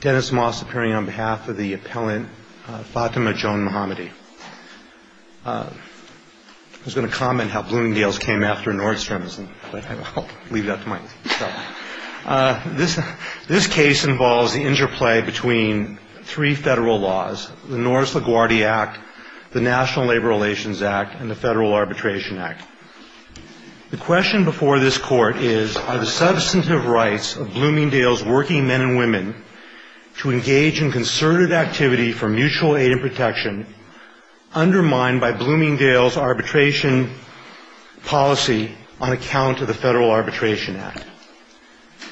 Dennis Moss appearing on behalf of the appellant Fatemeh Johnmohammadi. I was going to comment how Bloomingdale's came after Nordstrom's, but I'll leave that to myself. This case involves the interplay between three federal laws, the Norris-LaGuardia Act, the National Labor Relations Act, and the Federal Arbitration Act. The question before this Court is, are the substantive rights of Bloomingdale's working men and women to engage in concerted activity for mutual aid and protection undermined by Bloomingdale's arbitration policy on account of the Federal Arbitration Act?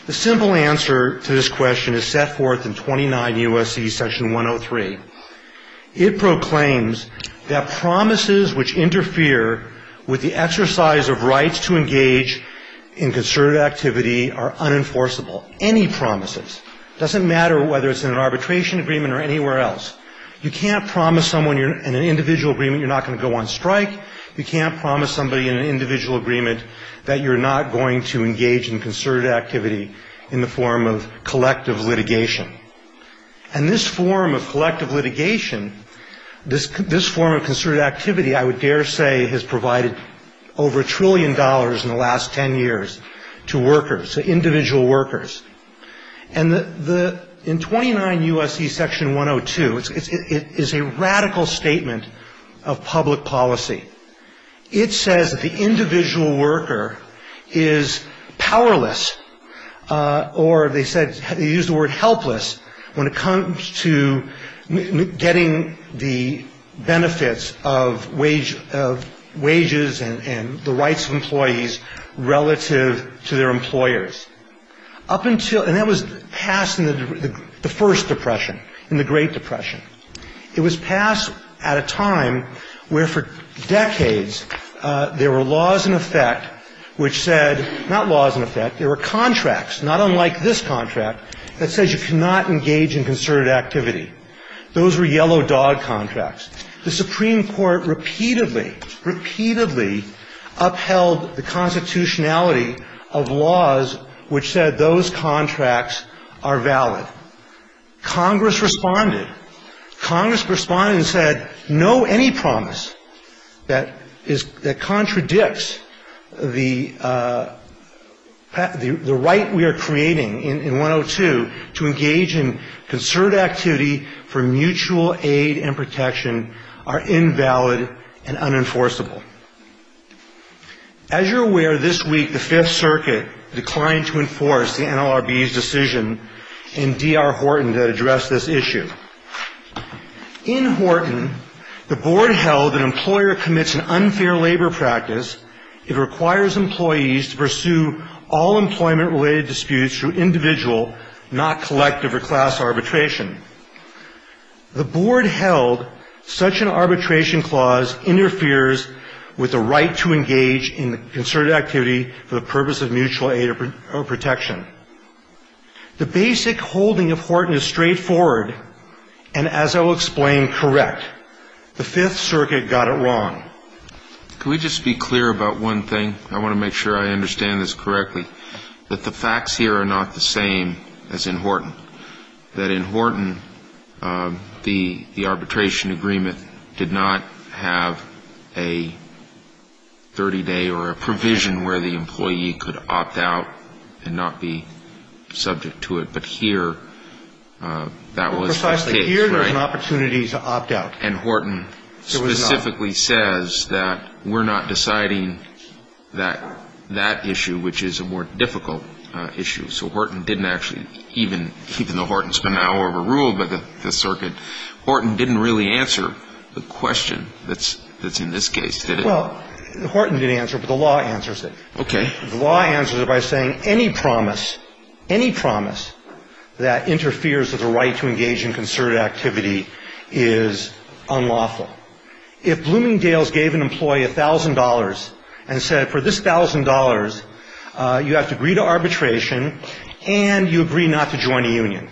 The simple answer to this question is set forth in 29 U.S.C. section 103. It proclaims that promises which interfere with the exercise of rights to engage in concerted activity are unenforceable. Any promises. Doesn't matter whether it's in an arbitration agreement or anywhere else. You can't promise someone in an individual agreement you're not going to go on strike. You can't promise somebody in an individual agreement that you're not going to engage in concerted activity in the form of collective litigation. And this form of collective litigation, this form of concerted activity, I would dare say, has provided over a trillion dollars in the last 10 years to workers, to individual workers. And in 29 U.S.C. section 102, it is a radical statement of public policy. It says that the individual worker is powerless, or they said, they used the word helpless. When it comes to getting the benefits of wages and the rights of employees relative to their employers. And that was passed in the first depression, in the Great Depression. It was passed at a time where for decades there were laws in effect which said, not laws in effect, there were contracts, not unlike this contract, that says you cannot engage in concerted activity. Those were yellow dog contracts. The Supreme Court repeatedly, repeatedly upheld the constitutionality of laws which said those contracts are valid. Congress responded. Congress responded and said, no, any promise that contradicts the right we are creating in 102, to engage in concerted activity for mutual aid and protection, are invalid and unenforceable. As you're aware, this week the Fifth Circuit declined to enforce the NLRB's decision in D.R. Horton to address this issue. In Horton, the board held that an employer commits an unfair labor practice. It requires employees to pursue all employment-related disputes through individual and collective litigation. Not collective or class arbitration. The board held such an arbitration clause interferes with the right to engage in concerted activity for the purpose of mutual aid or protection. The basic holding of Horton is straightforward, and as I will explain, correct. The Fifth Circuit got it wrong. Can we just be clear about one thing? I want to make sure I understand this correctly, that the facts here are not the same as in Horton. That in Horton, the arbitration agreement did not have a 30-day or a provision where the employee could opt out and not be subject to it. But here, that was the case, right? And Horton specifically says that we're not deciding that issue, which is a more difficult issue. So Horton didn't actually, even though Horton's been now overruled by the Circuit, Horton didn't really answer the question that's in this case, did it? Well, Horton didn't answer it, but the law answers it. Okay. The law answers it by saying any promise, any promise that interferes with the right to engage in concerted activity is unlawful. If Bloomingdale's gave an employee $1,000 and said, for this $1,000, you have to agree to arbitration, and you agree not to join a union,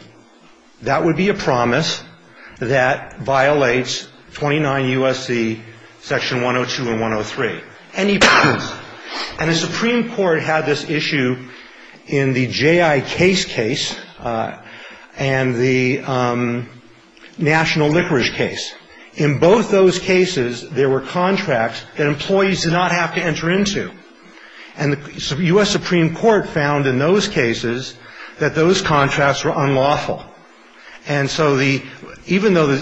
that would be a promise that violates 29 U.S.C. Section 102 and 103. Any promise. And the Supreme Court had this issue in the J.I. Case case and the National Liquorice case. In both those cases, there were contracts that employees did not have to enter into. And the U.S. Supreme Court found in those cases that those contracts were unlawful. And so even though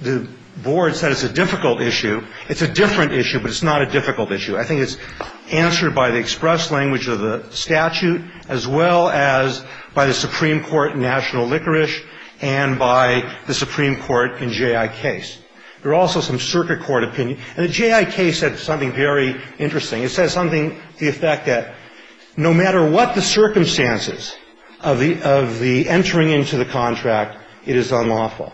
the board said it's a difficult issue, it's a different issue, but it's not a difficult issue. I think it's answered by the express language of the statute as well as by the Supreme Court in National Liquorice and by the Supreme Court in J.I. Case. There are also some circuit court opinions. And the J.I. Case said something very interesting. It said something to the effect that no matter what the circumstances of the entering into the contract, it is unlawful.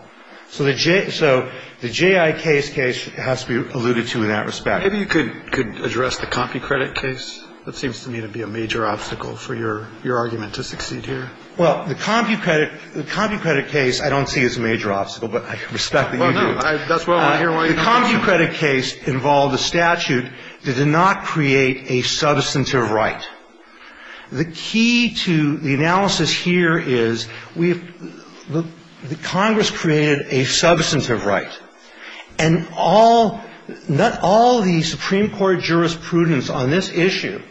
So the J.I. Case case has to be alluded to in that respect. Kennedy. Maybe you could address the CompuCredit case. That seems to me to be a major obstacle for your argument to succeed here. Well, the CompuCredit case I don't see as a major obstacle, but I respect that you do. Well, no. That's why I'm here. The CompuCredit case involved a statute that did not create a substantive right. The key to the analysis here is we have the Congress created a substantive right, and all the Supreme Court jurisprudence on this issue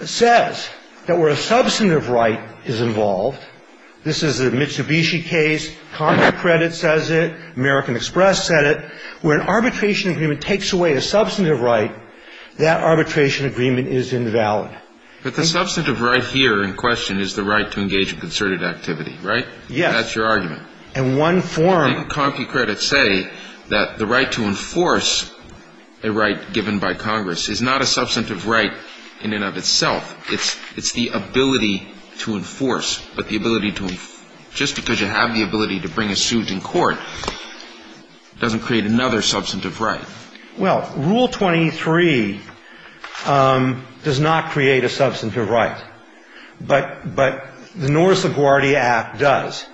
says that where a substantive right is involved, this is the Mitsubishi case, CompuCredit says it, American Express said it, where an arbitration agreement takes away a substantive right, that arbitration agreement is invalid. But the substantive right here in question is the right to engage in concerted activity, right? Yes. That's your argument. And one form of it. CompuCredit say that the right to enforce a right given by Congress is not a substantive right in and of itself. It's the ability to enforce. But the ability to enforce, just because you have the ability to bring a suit in court doesn't create another substantive right. Well, Rule 23 does not create a substantive right. But the North LaGuardia Act does.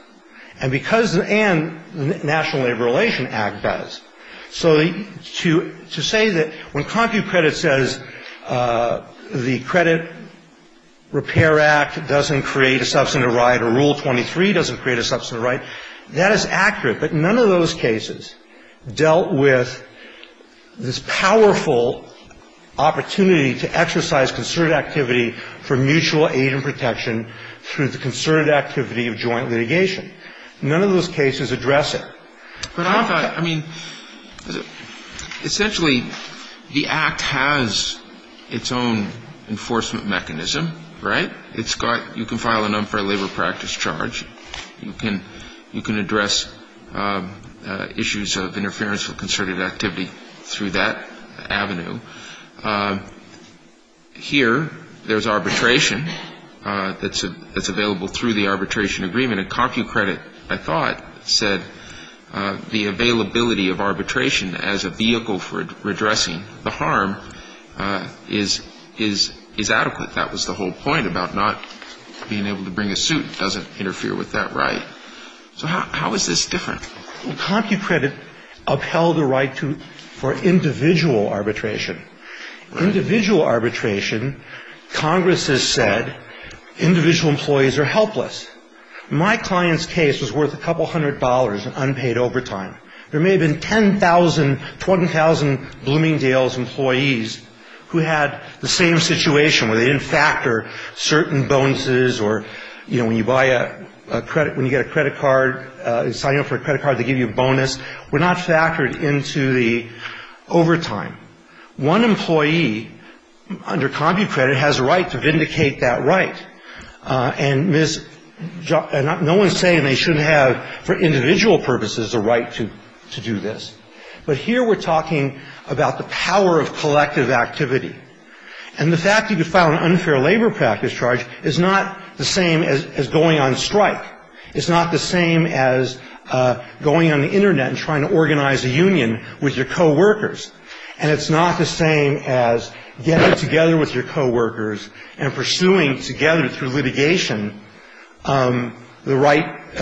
And because the National Labor Relations Act does. So to say that when CompuCredit says the Credit Repair Act doesn't create a substantive right or Rule 23 doesn't create a substantive right, that is accurate. But none of those cases dealt with this powerful opportunity to exercise concerted activity for mutual aid and protection through the concerted activity of joint litigation. None of those cases address it. But I mean, essentially, the Act has its own enforcement mechanism, right? It's got you can file an unfair labor practice charge. You can address issues of interference with concerted activity through that avenue. Here there's arbitration that's available through the arbitration agreement. And CompuCredit, I thought, said the availability of arbitration as a vehicle for addressing the harm is adequate. That was the whole point about not being able to bring a suit. It doesn't interfere with that right. So how is this different? CompuCredit upheld the right for individual arbitration. Individual arbitration, Congress has said, individual employees are helpless. My client's case was worth a couple hundred dollars in unpaid overtime. There may have been 10,000, 20,000 Bloomingdale's employees who had the same situation where they didn't factor certain bonuses or, you know, when you buy a credit, when you get a credit card, sign up for a credit card, they give you a bonus. We're not factored into the overtime. One employee under CompuCredit has a right to vindicate that right. And no one's saying they shouldn't have, for individual purposes, a right to do this. But here we're talking about the power of collective activity. And the fact that you could file an unfair labor practice charge is not the same as going on strike. It's not the same as going on the Internet and trying to organize a union with your coworkers. And it's not the same as getting together with your coworkers and pursuing together through litigation the right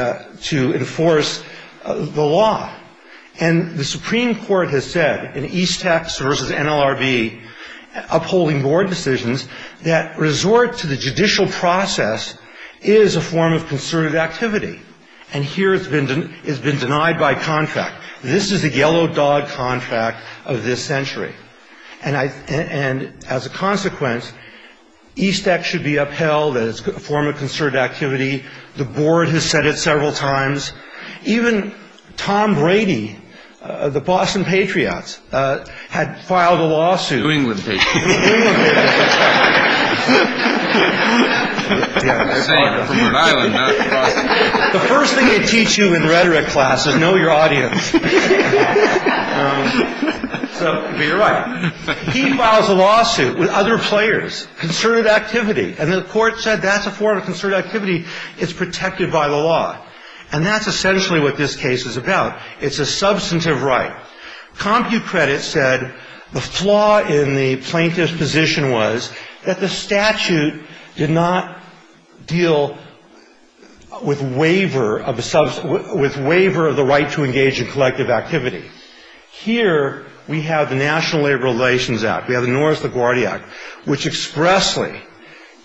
to enforce the law. And the Supreme Court has said in Eastex versus NLRB upholding board decisions that resort to the judicial process is a form of concerted activity. And here it's been denied by contract. This is the yellow dog contract of this century. And as a consequence, Eastex should be upheld as a form of concerted activity. The board has said it several times. Even Tom Brady of the Boston Patriots had filed a lawsuit. New England Patriots. New England Patriots. I say it from Rhode Island, not Boston. The first thing they teach you in rhetoric class is know your audience. So you're right. He files a lawsuit with other players. Concerted activity. And the court said that's a form of concerted activity. It's protected by the law. And that's essentially what this case is about. It's a substantive right. Compute Credit said the flaw in the plaintiff's position was that the statute did not deal with waiver of the right to engage in collective activity. Here we have the National Labor Relations Act. We have the Norris LaGuardia Act, which expressly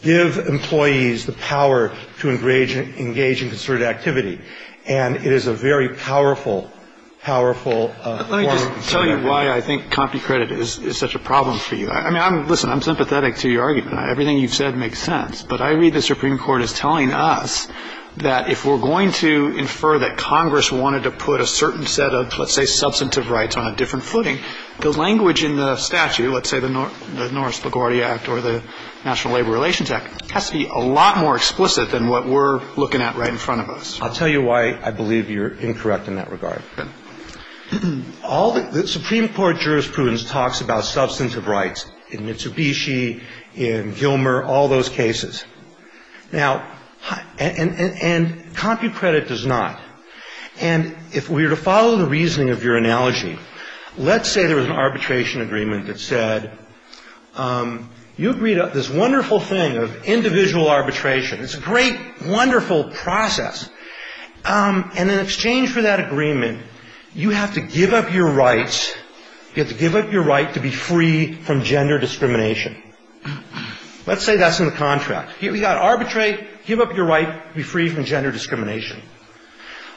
give employees the power to engage in concerted activity. And it is a very powerful, powerful form of concerted activity. Let me just tell you why I think Compute Credit is such a problem for you. I mean, listen, I'm sympathetic to your argument. Everything you've said makes sense. But I read the Supreme Court as telling us that if we're going to infer that Congress wanted to put a certain set of, let's say, substantive rights on a different footing, the language in the statute, let's say the Norris LaGuardia Act or the National Labor Relations Act, has to be a lot more explicit than what we're looking at right in front of us. I'll tell you why I believe you're incorrect in that regard. The Supreme Court jurisprudence talks about substantive rights in Mitsubishi, in Gilmer, all those cases. Now, and Compute Credit does not. And if we were to follow the reasoning of your analogy, let's say there was an arbitration agreement that said, you agreed to this wonderful thing of individual arbitration. It's a great, wonderful process. And in exchange for that agreement, you have to give up your rights, you have to give up your right to be free from gender discrimination. Let's say that's in the contract. We've got arbitrate, give up your right to be free from gender discrimination.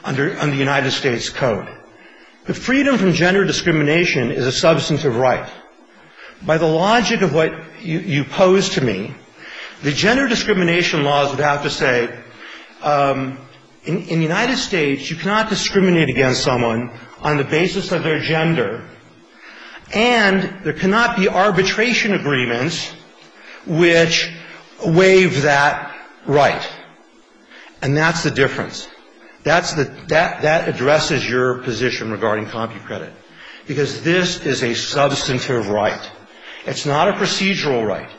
Under the United States Code. The freedom from gender discrimination is a substantive right. By the logic of what you pose to me, the gender discrimination laws would have to say, in the United States, you cannot discriminate against someone on the basis of their gender. And there cannot be arbitration agreements which waive that right. And that's the difference. That's the ‑‑ that addresses your position regarding Compute Credit. Because this is a substantive right. It's not a procedural right.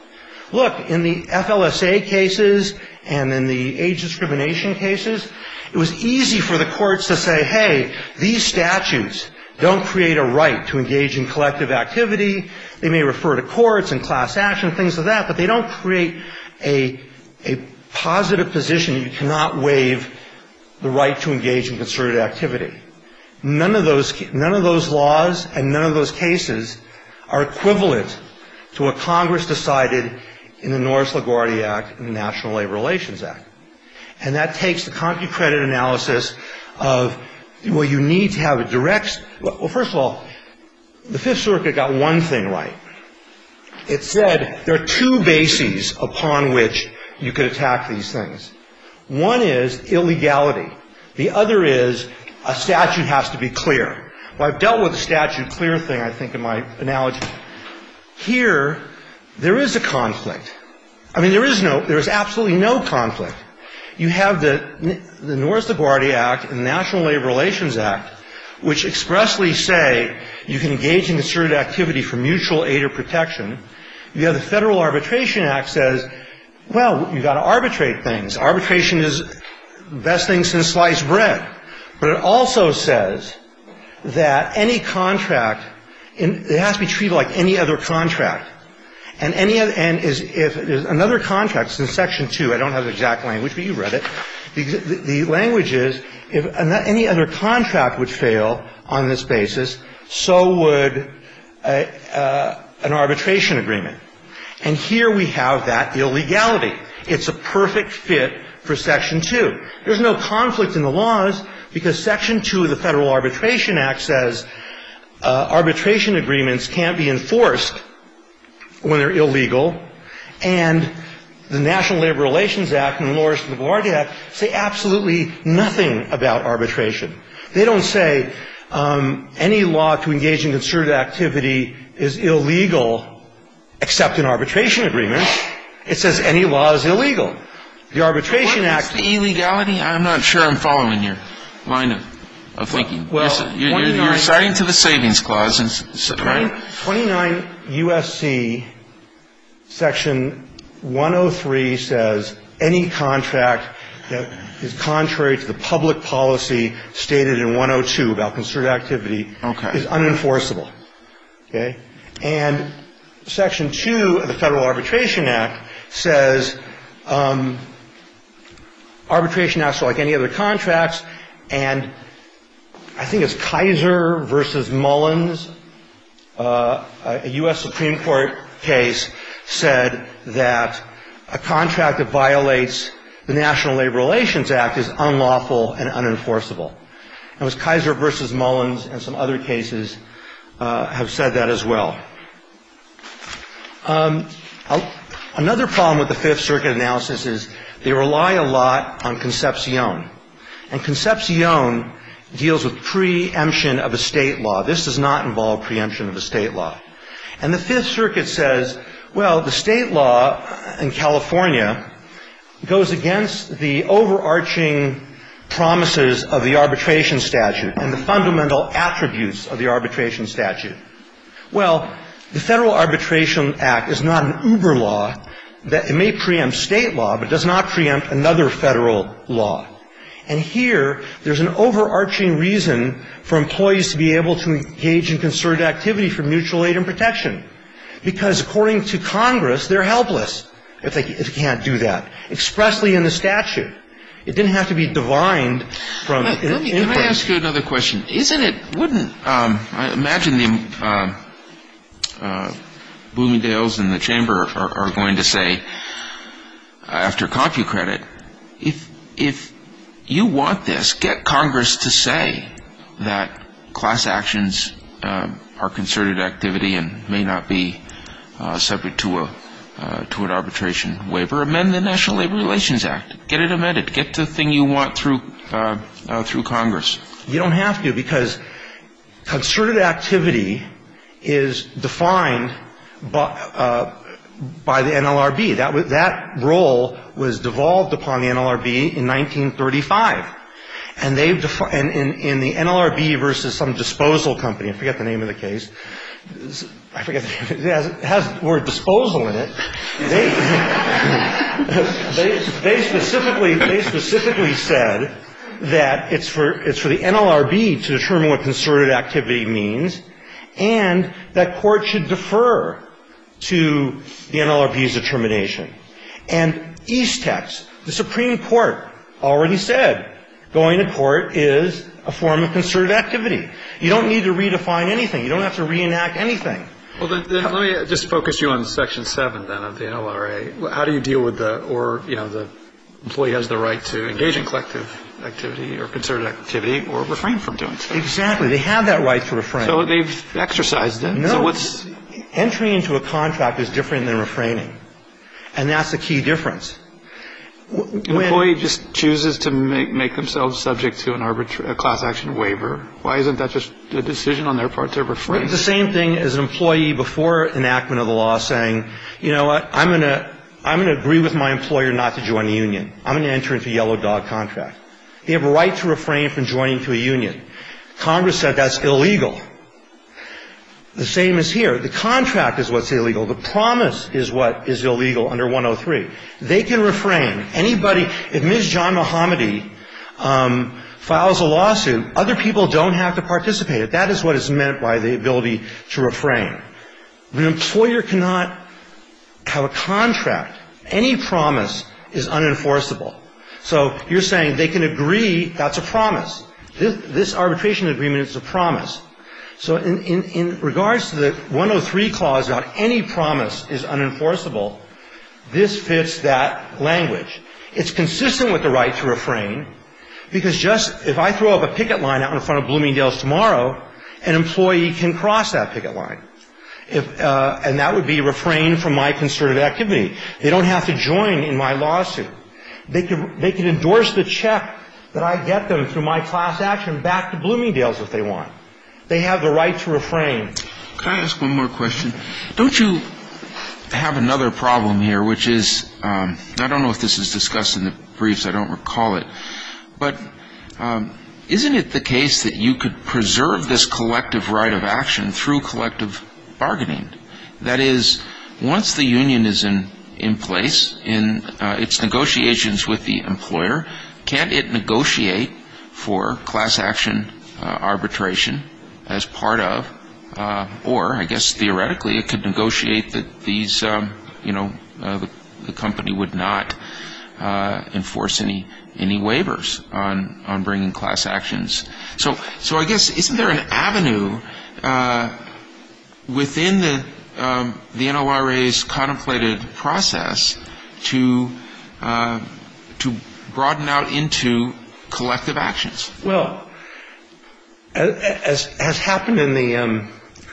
Look, in the FLSA cases and in the age discrimination cases, it was easy for the courts to say, hey, these statutes don't create a right to engage in collective activity. They may refer to courts and class action, things like that, but they don't create a positive position you cannot waive the right to engage in concerted activity. None of those laws and none of those cases are equivalent to what Congress decided in the Norris LaGuardia Act and the National Labor Relations Act. And that takes the Compute Credit analysis of, well, you need to have a direct ‑‑ Well, first of all, the Fifth Circuit got one thing right. It said there are two bases upon which you could attack these things. One is illegality. The other is a statute has to be clear. Well, I've dealt with the statute clear thing, I think, in my analogy. Here, there is a conflict. I mean, there is no ‑‑ there is absolutely no conflict. You have the Norris LaGuardia Act and the National Labor Relations Act, which expressly say you can engage in concerted activity for mutual aid or protection. You have the Federal Arbitration Act says, well, you've got to arbitrate things. Arbitration is the best thing since sliced bread. But it also says that any contract, it has to be treated like any other contract. And any ‑‑ and if another contract, since Section 2, I don't have the exact language, but you've read it, the language is if any other contract would fail on this basis, so would an arbitration agreement. And here we have that illegality. It's a perfect fit for Section 2. There's no conflict in the laws because Section 2 of the Federal Arbitration Act says arbitration agreements can't be enforced when they're illegal. And the National Labor Relations Act and the Norris LaGuardia Act say absolutely nothing about arbitration. They don't say any law to engage in concerted activity is illegal except in arbitration agreements. It says any law is illegal. The Arbitration Act ‑‑ What is the illegality? I'm not sure I'm following your line of thinking. Well, 29 ‑‑ You're citing to the Savings Clause. Okay. 29 U.S.C. Section 103 says any contract that is contrary to the public policy stated in 102 about concerted activity is unenforceable. Okay. And Section 2 of the Federal Arbitration Act says arbitration acts are like any other And I think it's Kaiser v. Mullins. A U.S. Supreme Court case said that a contract that violates the National Labor Relations Act is unlawful and unenforceable. It was Kaiser v. Mullins and some other cases have said that as well. Another problem with the Fifth Circuit analysis is they rely a lot on concepcion. And concepcion deals with preemption of a State law. This does not involve preemption of a State law. And the Fifth Circuit says, well, the State law in California goes against the overarching promises of the arbitration statute and the fundamental attributes of the arbitration statute. Well, the Federal Arbitration Act is not an uber law. It may preempt State law, but it does not preempt another Federal law. And here, there's an overarching reason for employees to be able to engage in concerted activity for mutual aid and protection, because according to Congress, they're helpless if they can't do that, expressly in the statute. It didn't have to be divined from input. Let me ask you another question. I imagine Bloomingdale's in the chamber are going to say, after CompuCredit, if you want this, get Congress to say that class actions are concerted activity and may not be subject to an arbitration waiver. Amend the National Labor Relations Act. Get it amended. Get the thing you want through Congress. You don't have to, because concerted activity is defined by the NLRB. That role was devolved upon the NLRB in 1935. And they've defined the NLRB versus some disposal company. I forget the name of the case. I forget. It has the word disposal in it. They specifically said that it's for the NLRB to determine what concerted activity means and that court should defer to the NLRB's determination. And Eastex, the Supreme Court, already said going to court is a form of concerted activity. You don't need to redefine anything. You don't have to reenact anything. Well, let me just focus you on Section 7, then, of the NLRA. How do you deal with the or, you know, the employee has the right to engage in collective activity or concerted activity or refrain from doing so? Exactly. They have that right to refrain. So they've exercised it. No. So what's entering into a contract is different than refraining. And that's the key difference. Employee just chooses to make themselves subject to a class action waiver. Why isn't that just a decision on their part to refrain? It's the same thing as an employee before enactment of the law saying, you know what, I'm going to agree with my employer not to join a union. I'm going to enter into a yellow dog contract. They have a right to refrain from joining to a union. Congress said that's illegal. The same is here. The contract is what's illegal. The promise is what is illegal under 103. They can refrain. Anybody, if Ms. John Mohammadi files a lawsuit, other people don't have to participate. That is what is meant by the ability to refrain. An employer cannot have a contract. Any promise is unenforceable. So you're saying they can agree that's a promise. This arbitration agreement is a promise. So in regards to the 103 clause about any promise is unenforceable, this fits that language. It's consistent with the right to refrain because just if I throw up a picket line out in front of Bloomingdale's tomorrow, an employee can cross that picket line. And that would be refrain from my concerted activity. They don't have to join in my lawsuit. They can endorse the check that I get them through my class action back to Bloomingdale's if they want. They have the right to refrain. Can I ask one more question? Don't you have another problem here, which is, I don't know if this is discussed in the briefs, I don't recall it, but isn't it the case that you could preserve this collective right of action through collective bargaining? That is, once the union is in place in its negotiations with the employer, can it negotiate for class action arbitration as part of, or I guess theoretically, it could negotiate that these, you know, the company would not enforce any waivers on bringing class actions. So I guess isn't there an avenue within the NORA's contemplated process to broaden out into collective actions? Well, as happened in the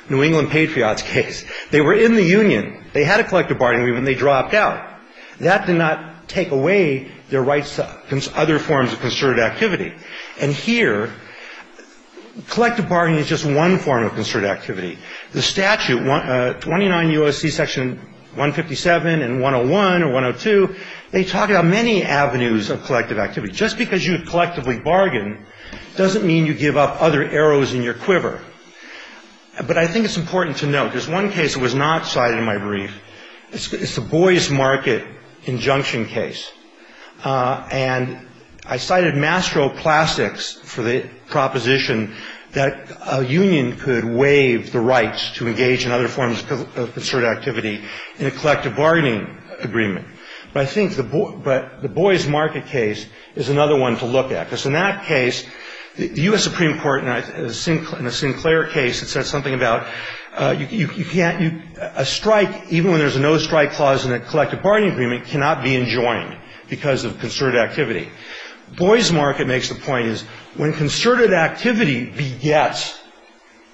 New England Patriots case, they were in the union. They had a collective bargaining agreement and they dropped out. That did not take away their rights to other forms of concerted activity. And here, collective bargaining is just one form of concerted activity. The statute, 29 U.S.C. section 157 and 101 or 102, they talk about many avenues of collective activity. Just because you collectively bargain doesn't mean you give up other arrows in your quiver. But I think it's important to note, there's one case that was not cited in my brief. It's the Boy's Market injunction case. And I cited Mastro Classics for the proposition that a union could waive the rights to engage in other forms of concerted activity in a collective bargaining agreement. But I think the Boy's Market case is another one to look at. Because in that case, the U.S. Supreme Court in a Sinclair case said something about a strike, even when there's a no-strike clause in a collective bargaining agreement, cannot be enjoined because of concerted activity. Boy's Market makes the point is when concerted activity begets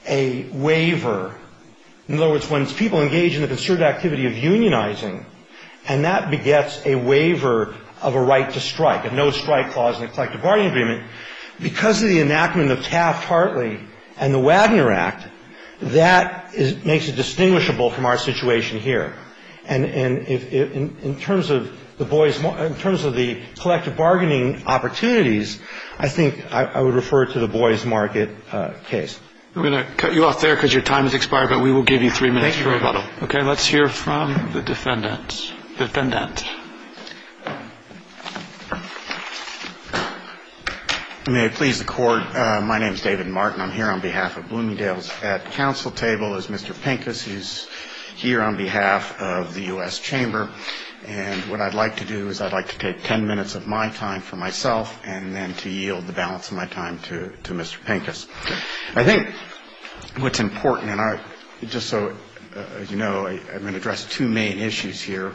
a waiver, in other words, when people engage in the concerted activity of unionizing and that begets a waiver of a right to strike, a no-strike clause in a collective bargaining agreement, because of the enactment of Taft-Hartley and the Wagner Act, that makes it distinguishable from our situation here. And in terms of the collective bargaining opportunities, I think I would refer to the Boy's Market case. We're going to cut you off there because your time has expired, but we will give you three minutes for a rebuttal. Thank you, Your Honor. Okay. Let's hear from the defendant. Defendant. May it please the Court. My name is David Martin. I'm here on behalf of Bloomingdale's at-counsel table as Mr. Pincus, who's here on behalf of the U.S. Chamber. And what I'd like to do is I'd like to take ten minutes of my time for myself and then to yield the balance of my time to Mr. Pincus. I think what's important, and just so you know, I'm going to address two main issues here,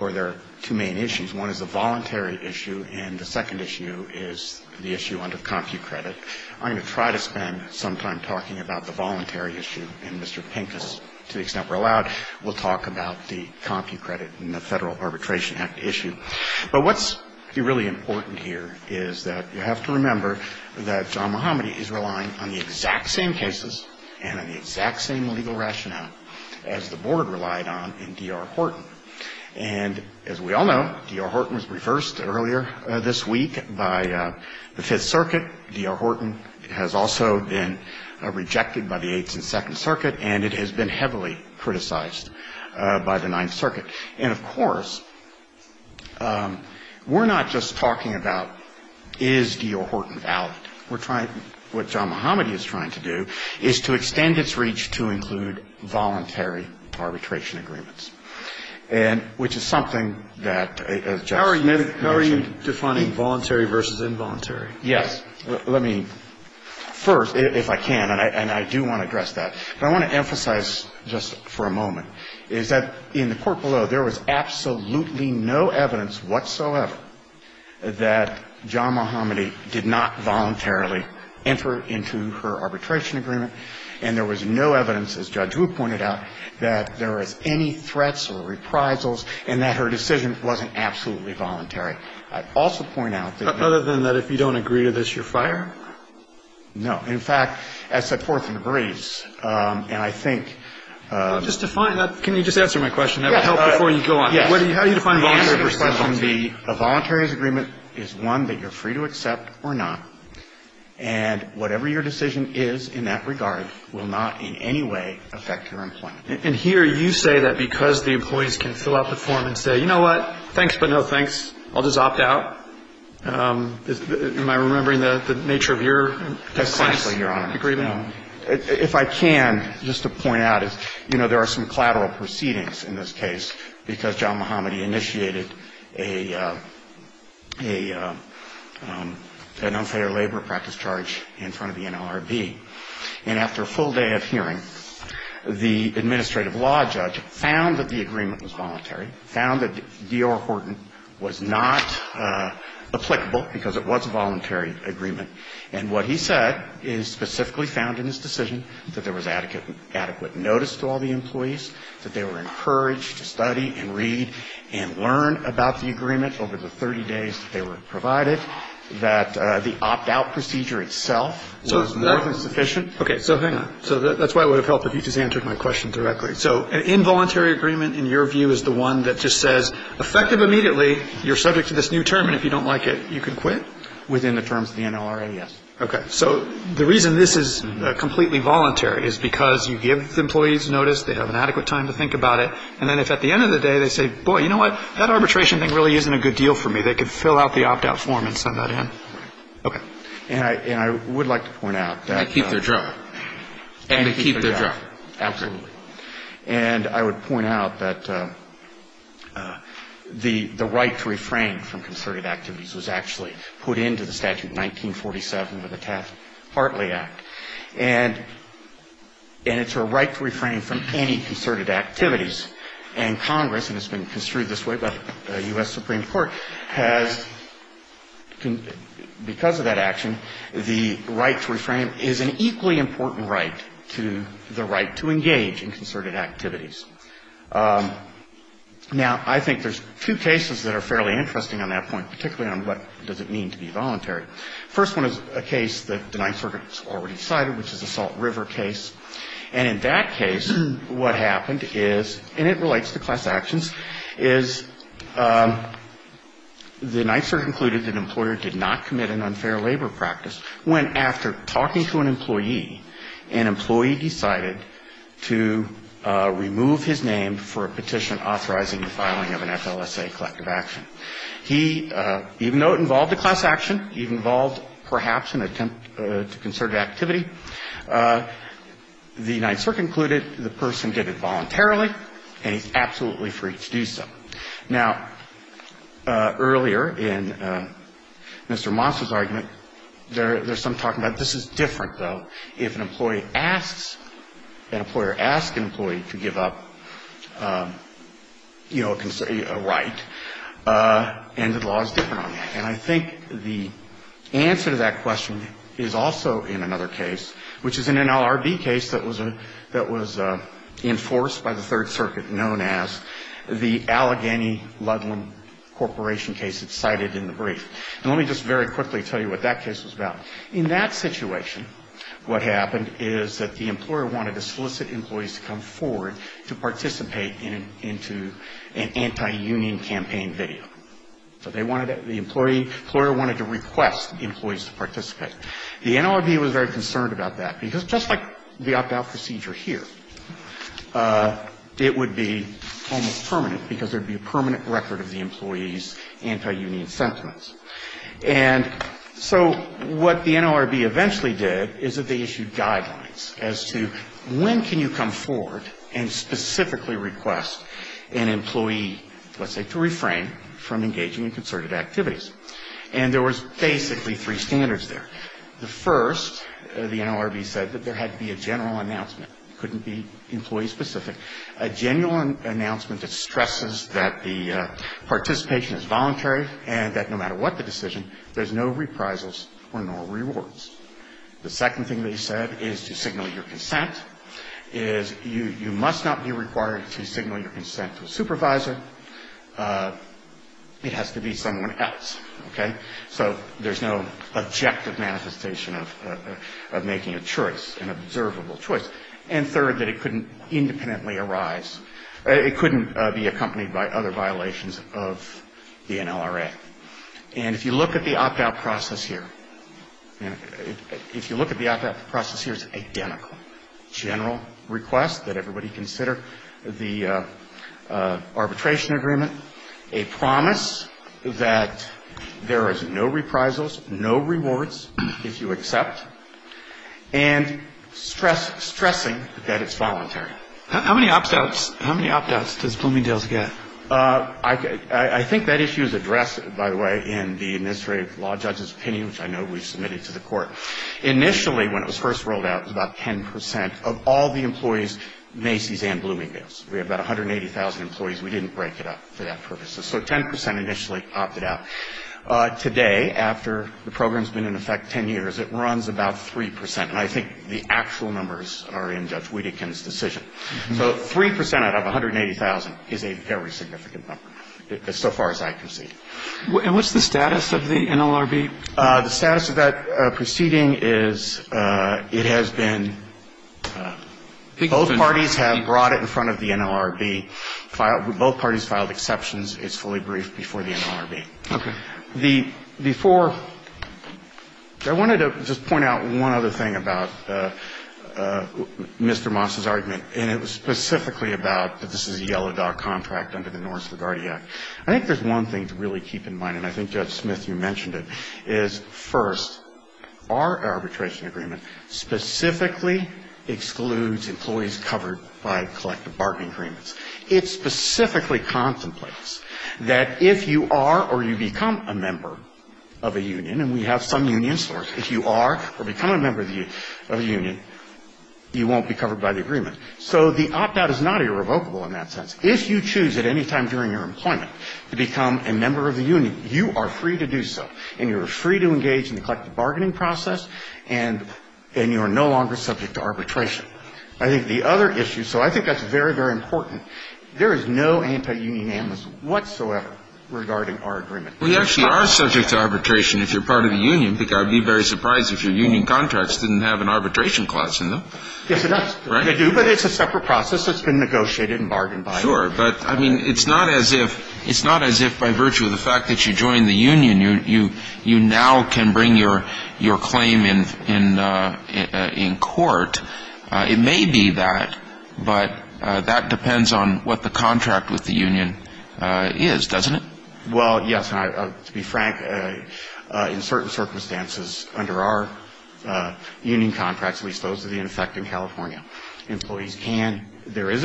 or there are two main issues. One is the voluntary issue, and the second issue is the issue under the Compu Credit. I'm going to try to spend some time talking about the voluntary issue, and Mr. Pincus, to the extent we're allowed, will talk about the Compu Credit and the Federal Arbitration Act issue. But what's really important here is that you have to remember that John Muhammadi is relying on the exact same cases and on the exact same legal rationale as the Board relied on in D.R. Horton. And as we all know, D.R. Horton was reversed earlier this week by the Fifth Circuit. D.R. Horton has also been rejected by the Eighth and Second Circuit, and it has been heavily criticized by the Ninth Circuit. And, of course, we're not just talking about is D.R. Horton valid. We're trying to – what John Muhammadi is trying to do is to extend its reach to include voluntary arbitration agreements, and – which is something that, as Justice mentioned. How are you defining voluntary versus involuntary? Yes. Let me first, if I can, and I do want to address that, but I want to emphasize just for a moment, is that in the court below, there was absolutely no evidence whatsoever that John Muhammadi did not voluntarily enter into her arbitration agreement. And there was no evidence, as Judge Wu pointed out, that there was any threats or reprisals and that her decision wasn't absolutely voluntary. I'd also point out that – But other than that, if you don't agree to this, you're fired? No. In fact, as said, Horton agrees. And I think – Can you just answer my question? That would help before you go on. Yes. How do you define voluntary versus involuntary? A voluntary agreement is one that you're free to accept or not. And whatever your decision is in that regard will not in any way affect your employment. And here you say that because the employees can fill out the form and say, you know what? Thanks, but no thanks. I'll just opt out. Am I remembering the nature of your client's agreement? Exactly, Your Honor. I'm sorry. I don't remember the nature of your client's agreement. If I can, just to point out is, you know, there are some collateral proceedings in this case because John Mohammadi initiated a – an unfair labor practice charge in front of the NLRB. And after a full day of hearing, the administrative law judge found that the agreement was voluntary, found that D.R. Horton was not applicable because it was a voluntary agreement. And what he said is specifically found in his decision that there was adequate notice to all the employees, that they were encouraged to study and read and learn about the agreement over the 30 days that they were provided, that the opt-out procedure itself was more than sufficient. Okay. So hang on. So that's why it would have helped if you just answered my question directly. Okay. So an involuntary agreement, in your view, is the one that just says, effective immediately, you're subject to this new term, and if you don't like it, you can quit? Within the terms of the NLRA, yes. Okay. So the reason this is completely voluntary is because you give the employees notice, they have an adequate time to think about it, and then if at the end of the day they say, boy, you know what, that arbitration thing really isn't a good deal for me, they could fill out the opt-out form and send that in. Right. Okay. And I would like to point out that – And keep their job. And keep their job. Right. Absolutely. And I would point out that the right to refrain from concerted activities was actually put into the statute in 1947 with the Taft-Hartley Act. And it's a right to refrain from any concerted activities. And Congress, and it's been construed this way by the U.S. Supreme Court, has, because of that action, the right to refrain is an equally important right to the right to engage in concerted activities. Now, I think there's two cases that are fairly interesting on that point, particularly on what does it mean to be voluntary. The first one is a case that the Ninth Circuit has already cited, which is the Salt River case. And in that case, what happened is, and it relates to class actions, is the Ninth Circuit concluded that an employer did not commit an unfair labor practice when, after talking to an employee, an employee decided to remove his name for a petition authorizing the filing of an FLSA collective action. He, even though it involved a class action, it involved perhaps an attempt to concerted activity, the Ninth Circuit concluded the person did it voluntarily, and he's absolutely free to do so. Now, earlier in Mr. Moss's argument, there's some talking about this is different, though. If an employee asks, an employer asks an employee to give up, you know, a right, and the law is different on that. And I think the answer to that question is also in another case, which is in an LRB case that was enforced by the Third Circuit, known as the Allegheny Ludlam Corporation case that's cited in the brief. And let me just very quickly tell you what that case was about. In that situation, what happened is that the employer wanted to solicit employees to come forward to participate in an anti-union campaign video. So they wanted the employee, the employer wanted to request employees to participate. The NLRB was very concerned about that, because just like the opt-out procedure here, it would be almost permanent, because there would be a permanent record of the employee's anti-union sentiments. And so what the NLRB eventually did is that they issued guidelines as to when can you come forward and specifically request an employee, let's say, to refrain from engaging in concerted activities. And there was basically three standards there. The first, the NLRB said that there had to be a general announcement. It couldn't be employee-specific. A genuine announcement that stresses that the participation is voluntary and that no matter what the decision, there's no reprisals or no rewards. The second thing they said is to signal your consent, is you must not be required to signal your consent to a supervisor. It has to be someone else. Okay? So there's no objective manifestation of making a choice, an observable choice. And third, that it couldn't independently arise. It couldn't be accompanied by other violations of the NLRA. And if you look at the opt-out process here, if you look at the opt-out process here, it's identical. General request that everybody consider the arbitration agreement. A promise that there is no reprisals, no rewards if you accept. And stressing that it's voluntary. How many opt-outs does Bloomingdale's get? I think that issue is addressed, by the way, in the administrative law judge's opinion, which I know we've submitted to the court. Initially, when it was first rolled out, it was about 10 percent of all the employees, Macy's and Bloomingdale's. We had about 180,000 employees. We didn't break it up for that purpose. So 10 percent initially opted out. Today, after the program's been in effect 10 years, it runs about 3 percent. And I think the actual numbers are in Judge Wiedekind's decision. So 3 percent out of 180,000 is a very significant number, so far as I can see. And what's the status of the NLRB? The status of that proceeding is it has been – both parties have brought it in front of the NLRB. Both parties filed exceptions. It's fully briefed before the NLRB. Okay. The four – I wanted to just point out one other thing about Mr. Moss's argument, and it was specifically about that this is a yellow dog contract under the Norris LaGuardia. I think there's one thing to really keep in mind, and I think, Judge Smith, you mentioned it, is, first, our arbitration agreement specifically excludes employees covered by collective bargaining agreements. It specifically contemplates that if you are or you become a member of a union, and we have some union stores, if you are or become a member of a union, you won't be covered by the agreement. So the opt-out is not irrevocable in that sense. If you choose at any time during your employment to become a member of the union, you are free to do so, and you are free to engage in the collective bargaining process, and you are no longer subject to arbitration. I think the other issue – so I think that's very, very important – there is no anti-union amnesty whatsoever regarding our agreement. We actually are subject to arbitration if you're part of the union, because I'd be very surprised if your union contracts didn't have an arbitration clause in them. Yes, they do, but it's a separate process that's been negotiated and bargained by It's not as if by virtue of the fact that you joined the union, you now can bring your claim in court. It may be that, but that depends on what the contract with the union is, doesn't it? Well, yes. To be frank, in certain circumstances under our union contracts, at least those of the And there is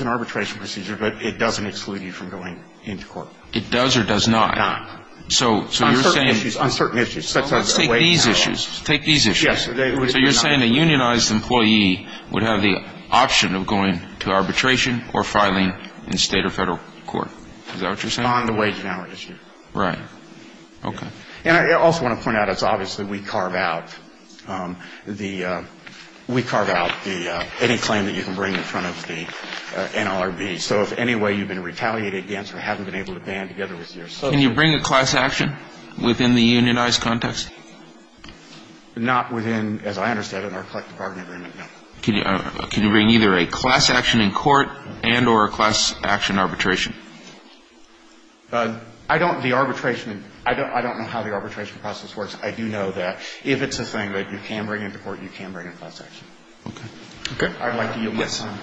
an arbitration procedure, but it doesn't exclude you from going into court. It does or does not? Not. So you're saying – On certain issues. Let's take these issues. Yes. So you're saying a unionized employee would have the option of going to arbitration or filing in state or federal court. Is that what you're saying? On the wage and hour issue. Right. Okay. And I also want to point out, it's obvious that we carve out the – we carve out any claim that you can bring in front of the NLRB. So if in any way you've been retaliated against or haven't been able to band together with your – Can you bring a class action within the unionized context? Not within, as I understand it, our collective bargaining agreement, no. Can you bring either a class action in court and or a class action arbitration? I don't – the arbitration – I don't know how the arbitration process works. I do know that if it's a thing that you can bring into court, you can bring a class action. Okay. Okay. I'd like to yield my time.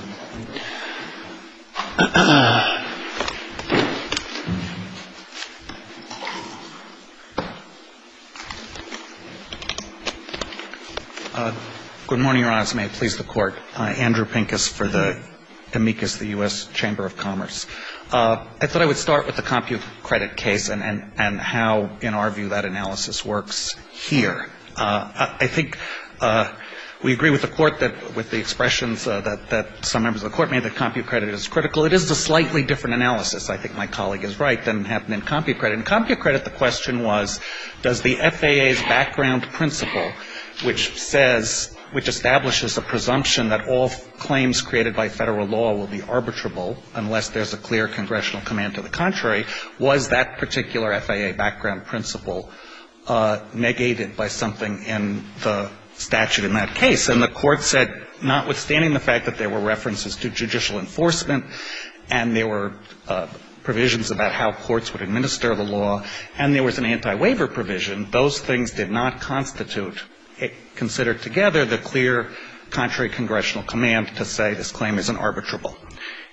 Good morning, Your Honors. May it please the Court. Andrew Pincus for the – amicus, the U.S. Chamber of Commerce. I thought I would start with the CompuCredit case and how, in our view, that analysis works here. I think we agree with the Court that – with the expressions that some members of the Court made that CompuCredit is critical. It is a slightly different analysis, I think my colleague is right, than happened in CompuCredit. In CompuCredit, the question was, does the FAA's background principle, which says – which establishes a presumption that all claims created by Federal law will be arbitrable unless there's a clear congressional command to the contrary, was that particular FAA background principle negated by something in the statute in that case? And the Court said, notwithstanding the fact that there were references to judicial enforcement and there were provisions about how courts would administer the law and there was an anti-waiver provision, those things did not constitute, considered together, the clear contrary congressional command to say this claim isn't arbitrable.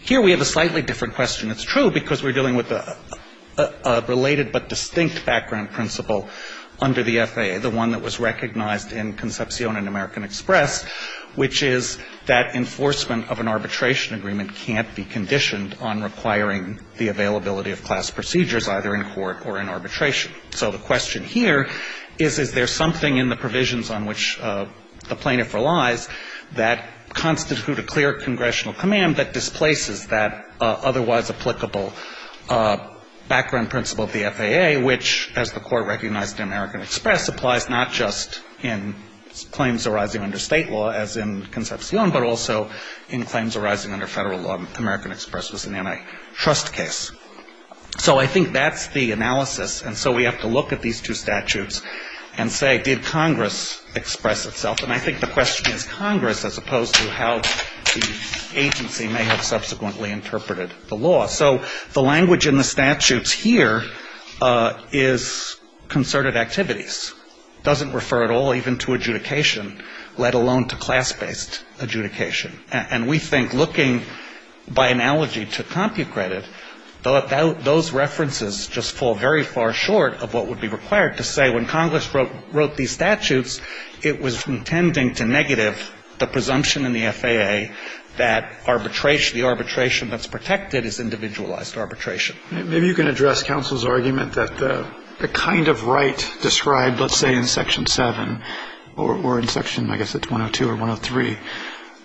Here we have a slightly different question. It's true because we're dealing with a related but distinct background principle under the FAA, the one that was recognized in Concepcion and American Express, which is that enforcement of an arbitration agreement can't be conditioned on requiring the availability of class procedures, either in court or in arbitration. So the question here is, is there something in the provisions on which the plaintiff relies that constitute a clear congressional command that displaces that otherwise applicable background principle of the FAA, which, as the Court recognized in American Express, applies not just in claims arising under State law, as in Concepcion, but also in claims arising under Federal law. American Express was an antitrust case. So I think that's the analysis. And so we have to look at these two statutes and say, did Congress express itself? And I think the question is Congress as opposed to how the agency may have subsequently interpreted the law. So the language in the statutes here is concerted activities. It doesn't refer at all even to adjudication, let alone to class-based adjudication. And we think looking by analogy to CompuCredit, those references just fall very far short of what would be required to say when Congress wrote these statutes, it was intending to negative the presumption in the FAA that arbitration, the arbitration that's protected is individualized arbitration. Maybe you can address counsel's argument that the kind of right described, let's say, in Section 7 or in Section, I guess it's 102 or 103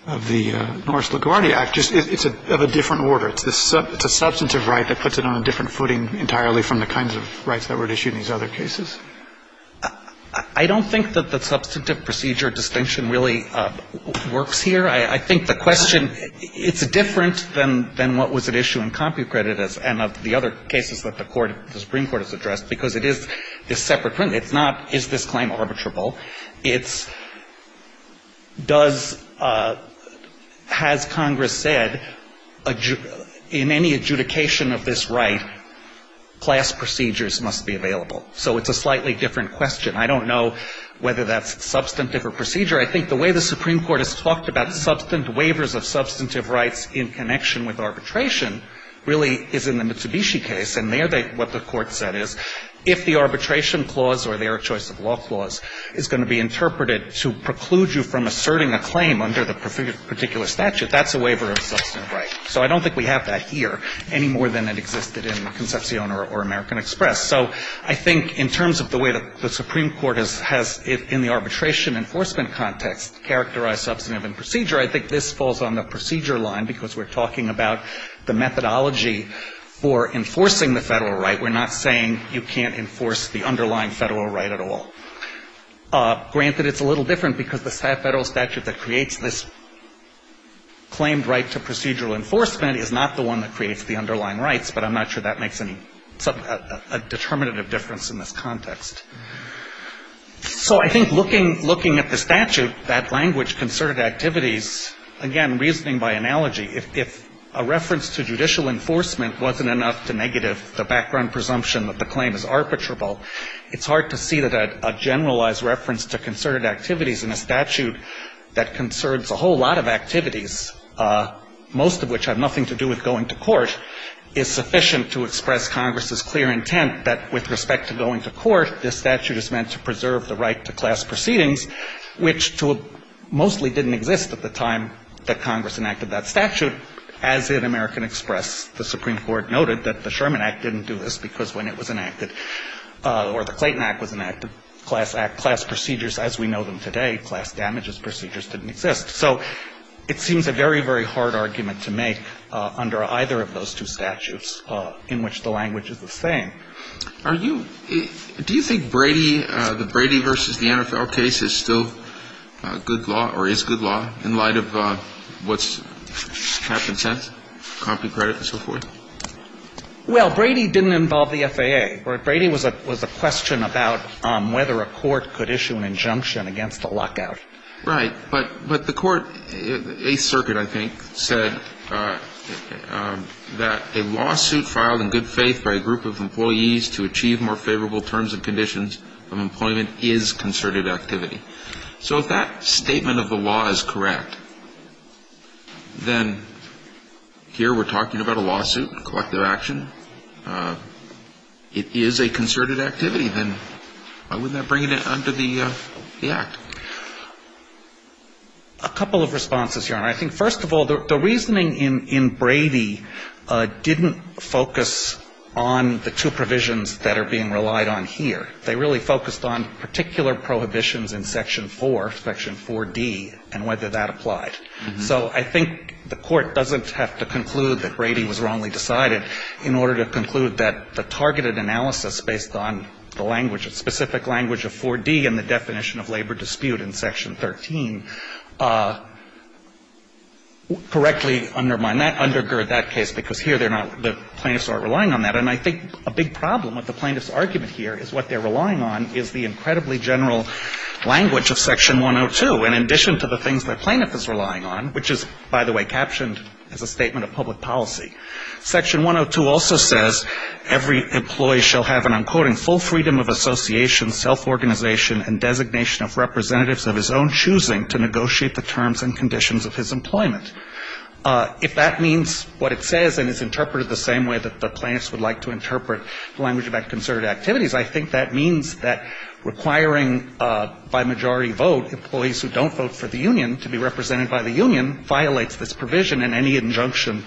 of the Norris-LaGuardia Act, it's of a different order. It's a substantive right that puts it on a different footing entirely from the kinds of rights that were issued in these other cases? I don't think that the substantive procedure distinction really works here. I think the question, it's different than what was at issue in CompuCredit and of the other cases that the Supreme Court has addressed, because it is separate. It's not, is this claim arbitrable? It's, does, has Congress said in any adjudication of this right, class procedures must be available? So it's a slightly different question. I don't know whether that's substantive or procedure. I think the way the Supreme Court has talked about substantive waivers of substantive rights in connection with arbitration really is in the Mitsubishi case. And there, what the Court said is, if the arbitration clause or the Eric Choice of Law clause is going to be interpreted to preclude you from asserting a claim under the particular statute, that's a waiver of substantive right. So I don't think we have that here any more than it existed in Concepcion or American Express. So I think in terms of the way that the Supreme Court has, in the arbitration enforcement context, characterized substantive and procedure, I think this falls on the procedure line, because we're talking about the methodology for enforcing the Federal right. We're not saying you can't enforce the underlying Federal right at all. Granted, it's a little different, because the Federal statute that creates this claimed right to procedural enforcement is not the one that creates the underlying rights, but I'm not sure that makes any, a determinative difference in this context. So I think looking, looking at the statute, that language, concerted activities, again, reasoning by analogy, if a reference to judicial enforcement wasn't enough to negative the background presumption that the claim is arbitrable, it's hard to see that a generalized reference to concerted activities in a statute that concerns a whole lot of activities, most of which have nothing to do with going to court, is sufficient to express Congress's clear intent that with respect to going to court, this statute is meant to preserve the right to class proceedings, which mostly didn't exist at the time that Congress enacted that statute. As in American Express, the Supreme Court noted that the Sherman Act didn't do this because when it was enacted, or the Clayton Act was enacted, class act, class procedures as we know them today, class damages procedures didn't exist. So it seems a very, very hard argument to make under either of those two statutes in which the language is the same. Are you, do you think Brady, the Brady v. the NFL case is still good law or is good law in light of what's happened since? Compton credit and so forth? Well, Brady didn't involve the FAA. Brady was a question about whether a court could issue an injunction against a lockout. Right. But the court, Eighth Circuit, I think, said that a lawsuit filed in good faith by a group of employees to achieve more favorable terms and conditions of employment is concerted activity. So if that statement of the law is correct, then here we're talking about a lawsuit, a collective action. It is a concerted activity. Then why wouldn't that bring it under the Act? A couple of responses, Your Honor. I think, first of all, the reasoning in Brady didn't focus on the two provisions that are being relied on here. They really focused on particular prohibitions in Section 4, Section 4D, and whether that applied. So I think the Court doesn't have to conclude that Brady was wrongly decided in order to conclude that the targeted analysis based on the language, the specific language of 4D and the definition of labor dispute in Section 13 correctly undermine that, undergird that case. Because here they're not, the plaintiffs aren't relying on that. And I think a big problem with the plaintiff's argument here is what they're relying on is the incredibly general language of Section 102. And in addition to the things the plaintiff is relying on, which is, by the way, captioned as a statement of public policy, Section 102 also says, every employee shall have an, I'm quoting, full freedom of association, self-organization and designation of representatives of his own choosing to negotiate the terms and conditions of his employment. If that means what it says and is interpreted the same way that the plaintiffs would like to interpret the language about concerted activities, I think that means that requiring by majority vote employees who don't vote for the union to be represented by the union violates this provision. And any injunction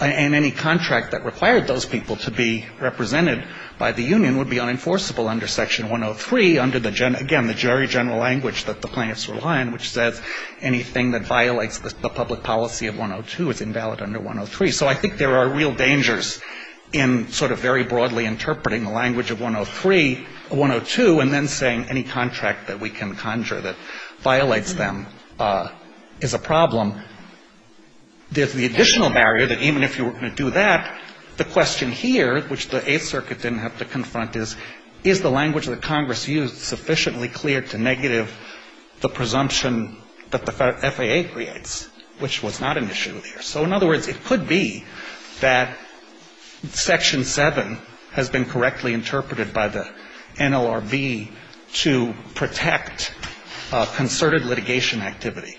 and any contract that required those people to be represented by the union would be unenforceable under Section 103 under the, again, the very general language that the plaintiffs rely on, which says anything that violates the public policy of 102 is invalid under 103. So I think there are real dangers in sort of very broadly interpreting the language of 103, 102, and then saying any contract that we can conjure that violates them is a problem. There's the additional barrier that even if you were going to do that, the question here, which the Eighth Circuit didn't have to confront, is, is the language that Congress used sufficiently clear to negative the presumption that the FAA creates, which was not an issue there. So in other words, it could be that Section 7 has been correctly interpreted by the NLRB to protect concerted litigation activity.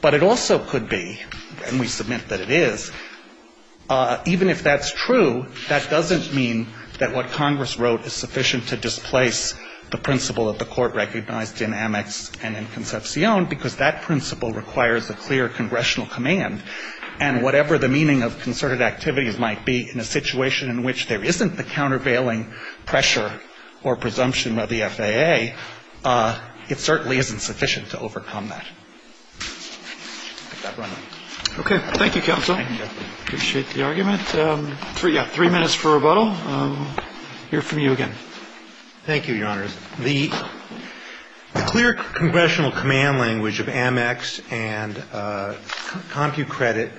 But it also could be, and we submit that it is, even if that's true, that doesn't mean that what Congress wrote is sufficient to displace the principle that the Court recognized in Amex and in Concepcion, because that principle requires a clear congressional command, and whatever the meaning of concerted activities might be in a situation in which there isn't the countervailing pressure or presumption of the FAA, it certainly isn't sufficient to overcome that. I'll let that run. Roberts. Okay. Thank you, counsel. I appreciate the argument. Three minutes for rebuttal. I'll hear from you again. Thank you, Your Honors. The clear congressional command language of Amex and CompuCredit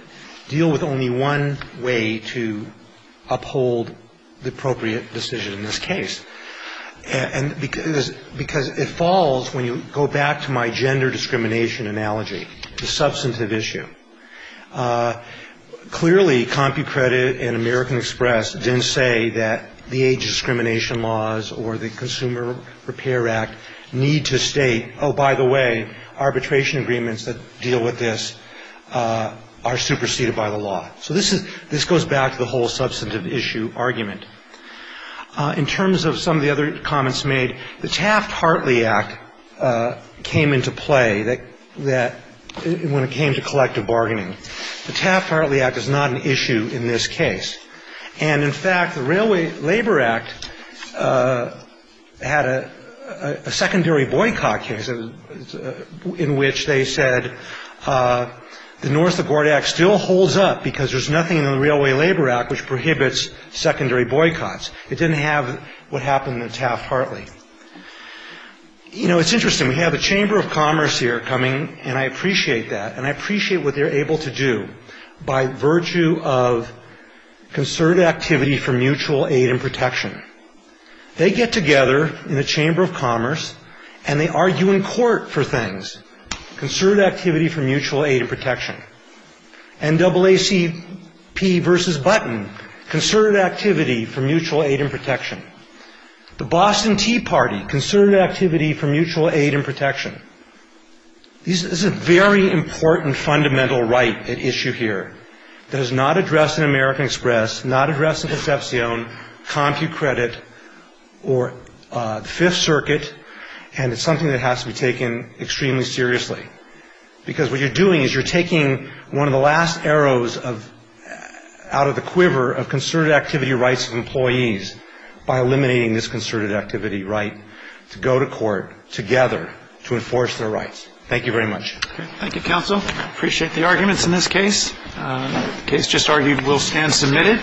deal with only one way to uphold the appropriate decision in this case. And because it falls, when you go back to my gender discrimination analogy, the substantive issue. Clearly, CompuCredit and American Express didn't say that the age discrimination laws or the Consumer Repair Act need to state, oh, by the way, arbitration agreements that deal with this are superseded by the law. So this goes back to the whole substantive issue argument. In terms of some of the other comments made, the Taft-Hartley Act came into play when it came to collective bargaining. The Taft-Hartley Act is not an issue in this case. And, in fact, the Railway Labor Act had a secondary boycott case in which they said the North LaGuardia Act still holds up because there's nothing in the Railway Labor Act which prohibits secondary boycotts. It didn't have what happened in the Taft-Hartley. You know, it's interesting. We have the Chamber of Commerce here coming, and I appreciate that. And I appreciate what they're able to do by virtue of concerted activity for mutual aid and protection. They get together in the Chamber of Commerce, and they argue in court for things, concerted activity for mutual aid and protection. NAACP versus Button, concerted activity for mutual aid and protection. The Boston Tea Party, concerted activity for mutual aid and protection. This is a very important fundamental right at issue here that is not addressed in American Express, not addressed in Concepcion, CompuCredit, or the Fifth Circuit, and it's something that has to be taken extremely seriously. Because what you're doing is you're taking one of the last arrows out of the quiver of concerted activity rights of employees by eliminating this concerted activity right to go to court together to enforce their rights. Thank you very much. Thank you, counsel. I appreciate the arguments in this case. The case just argued will stand submitted.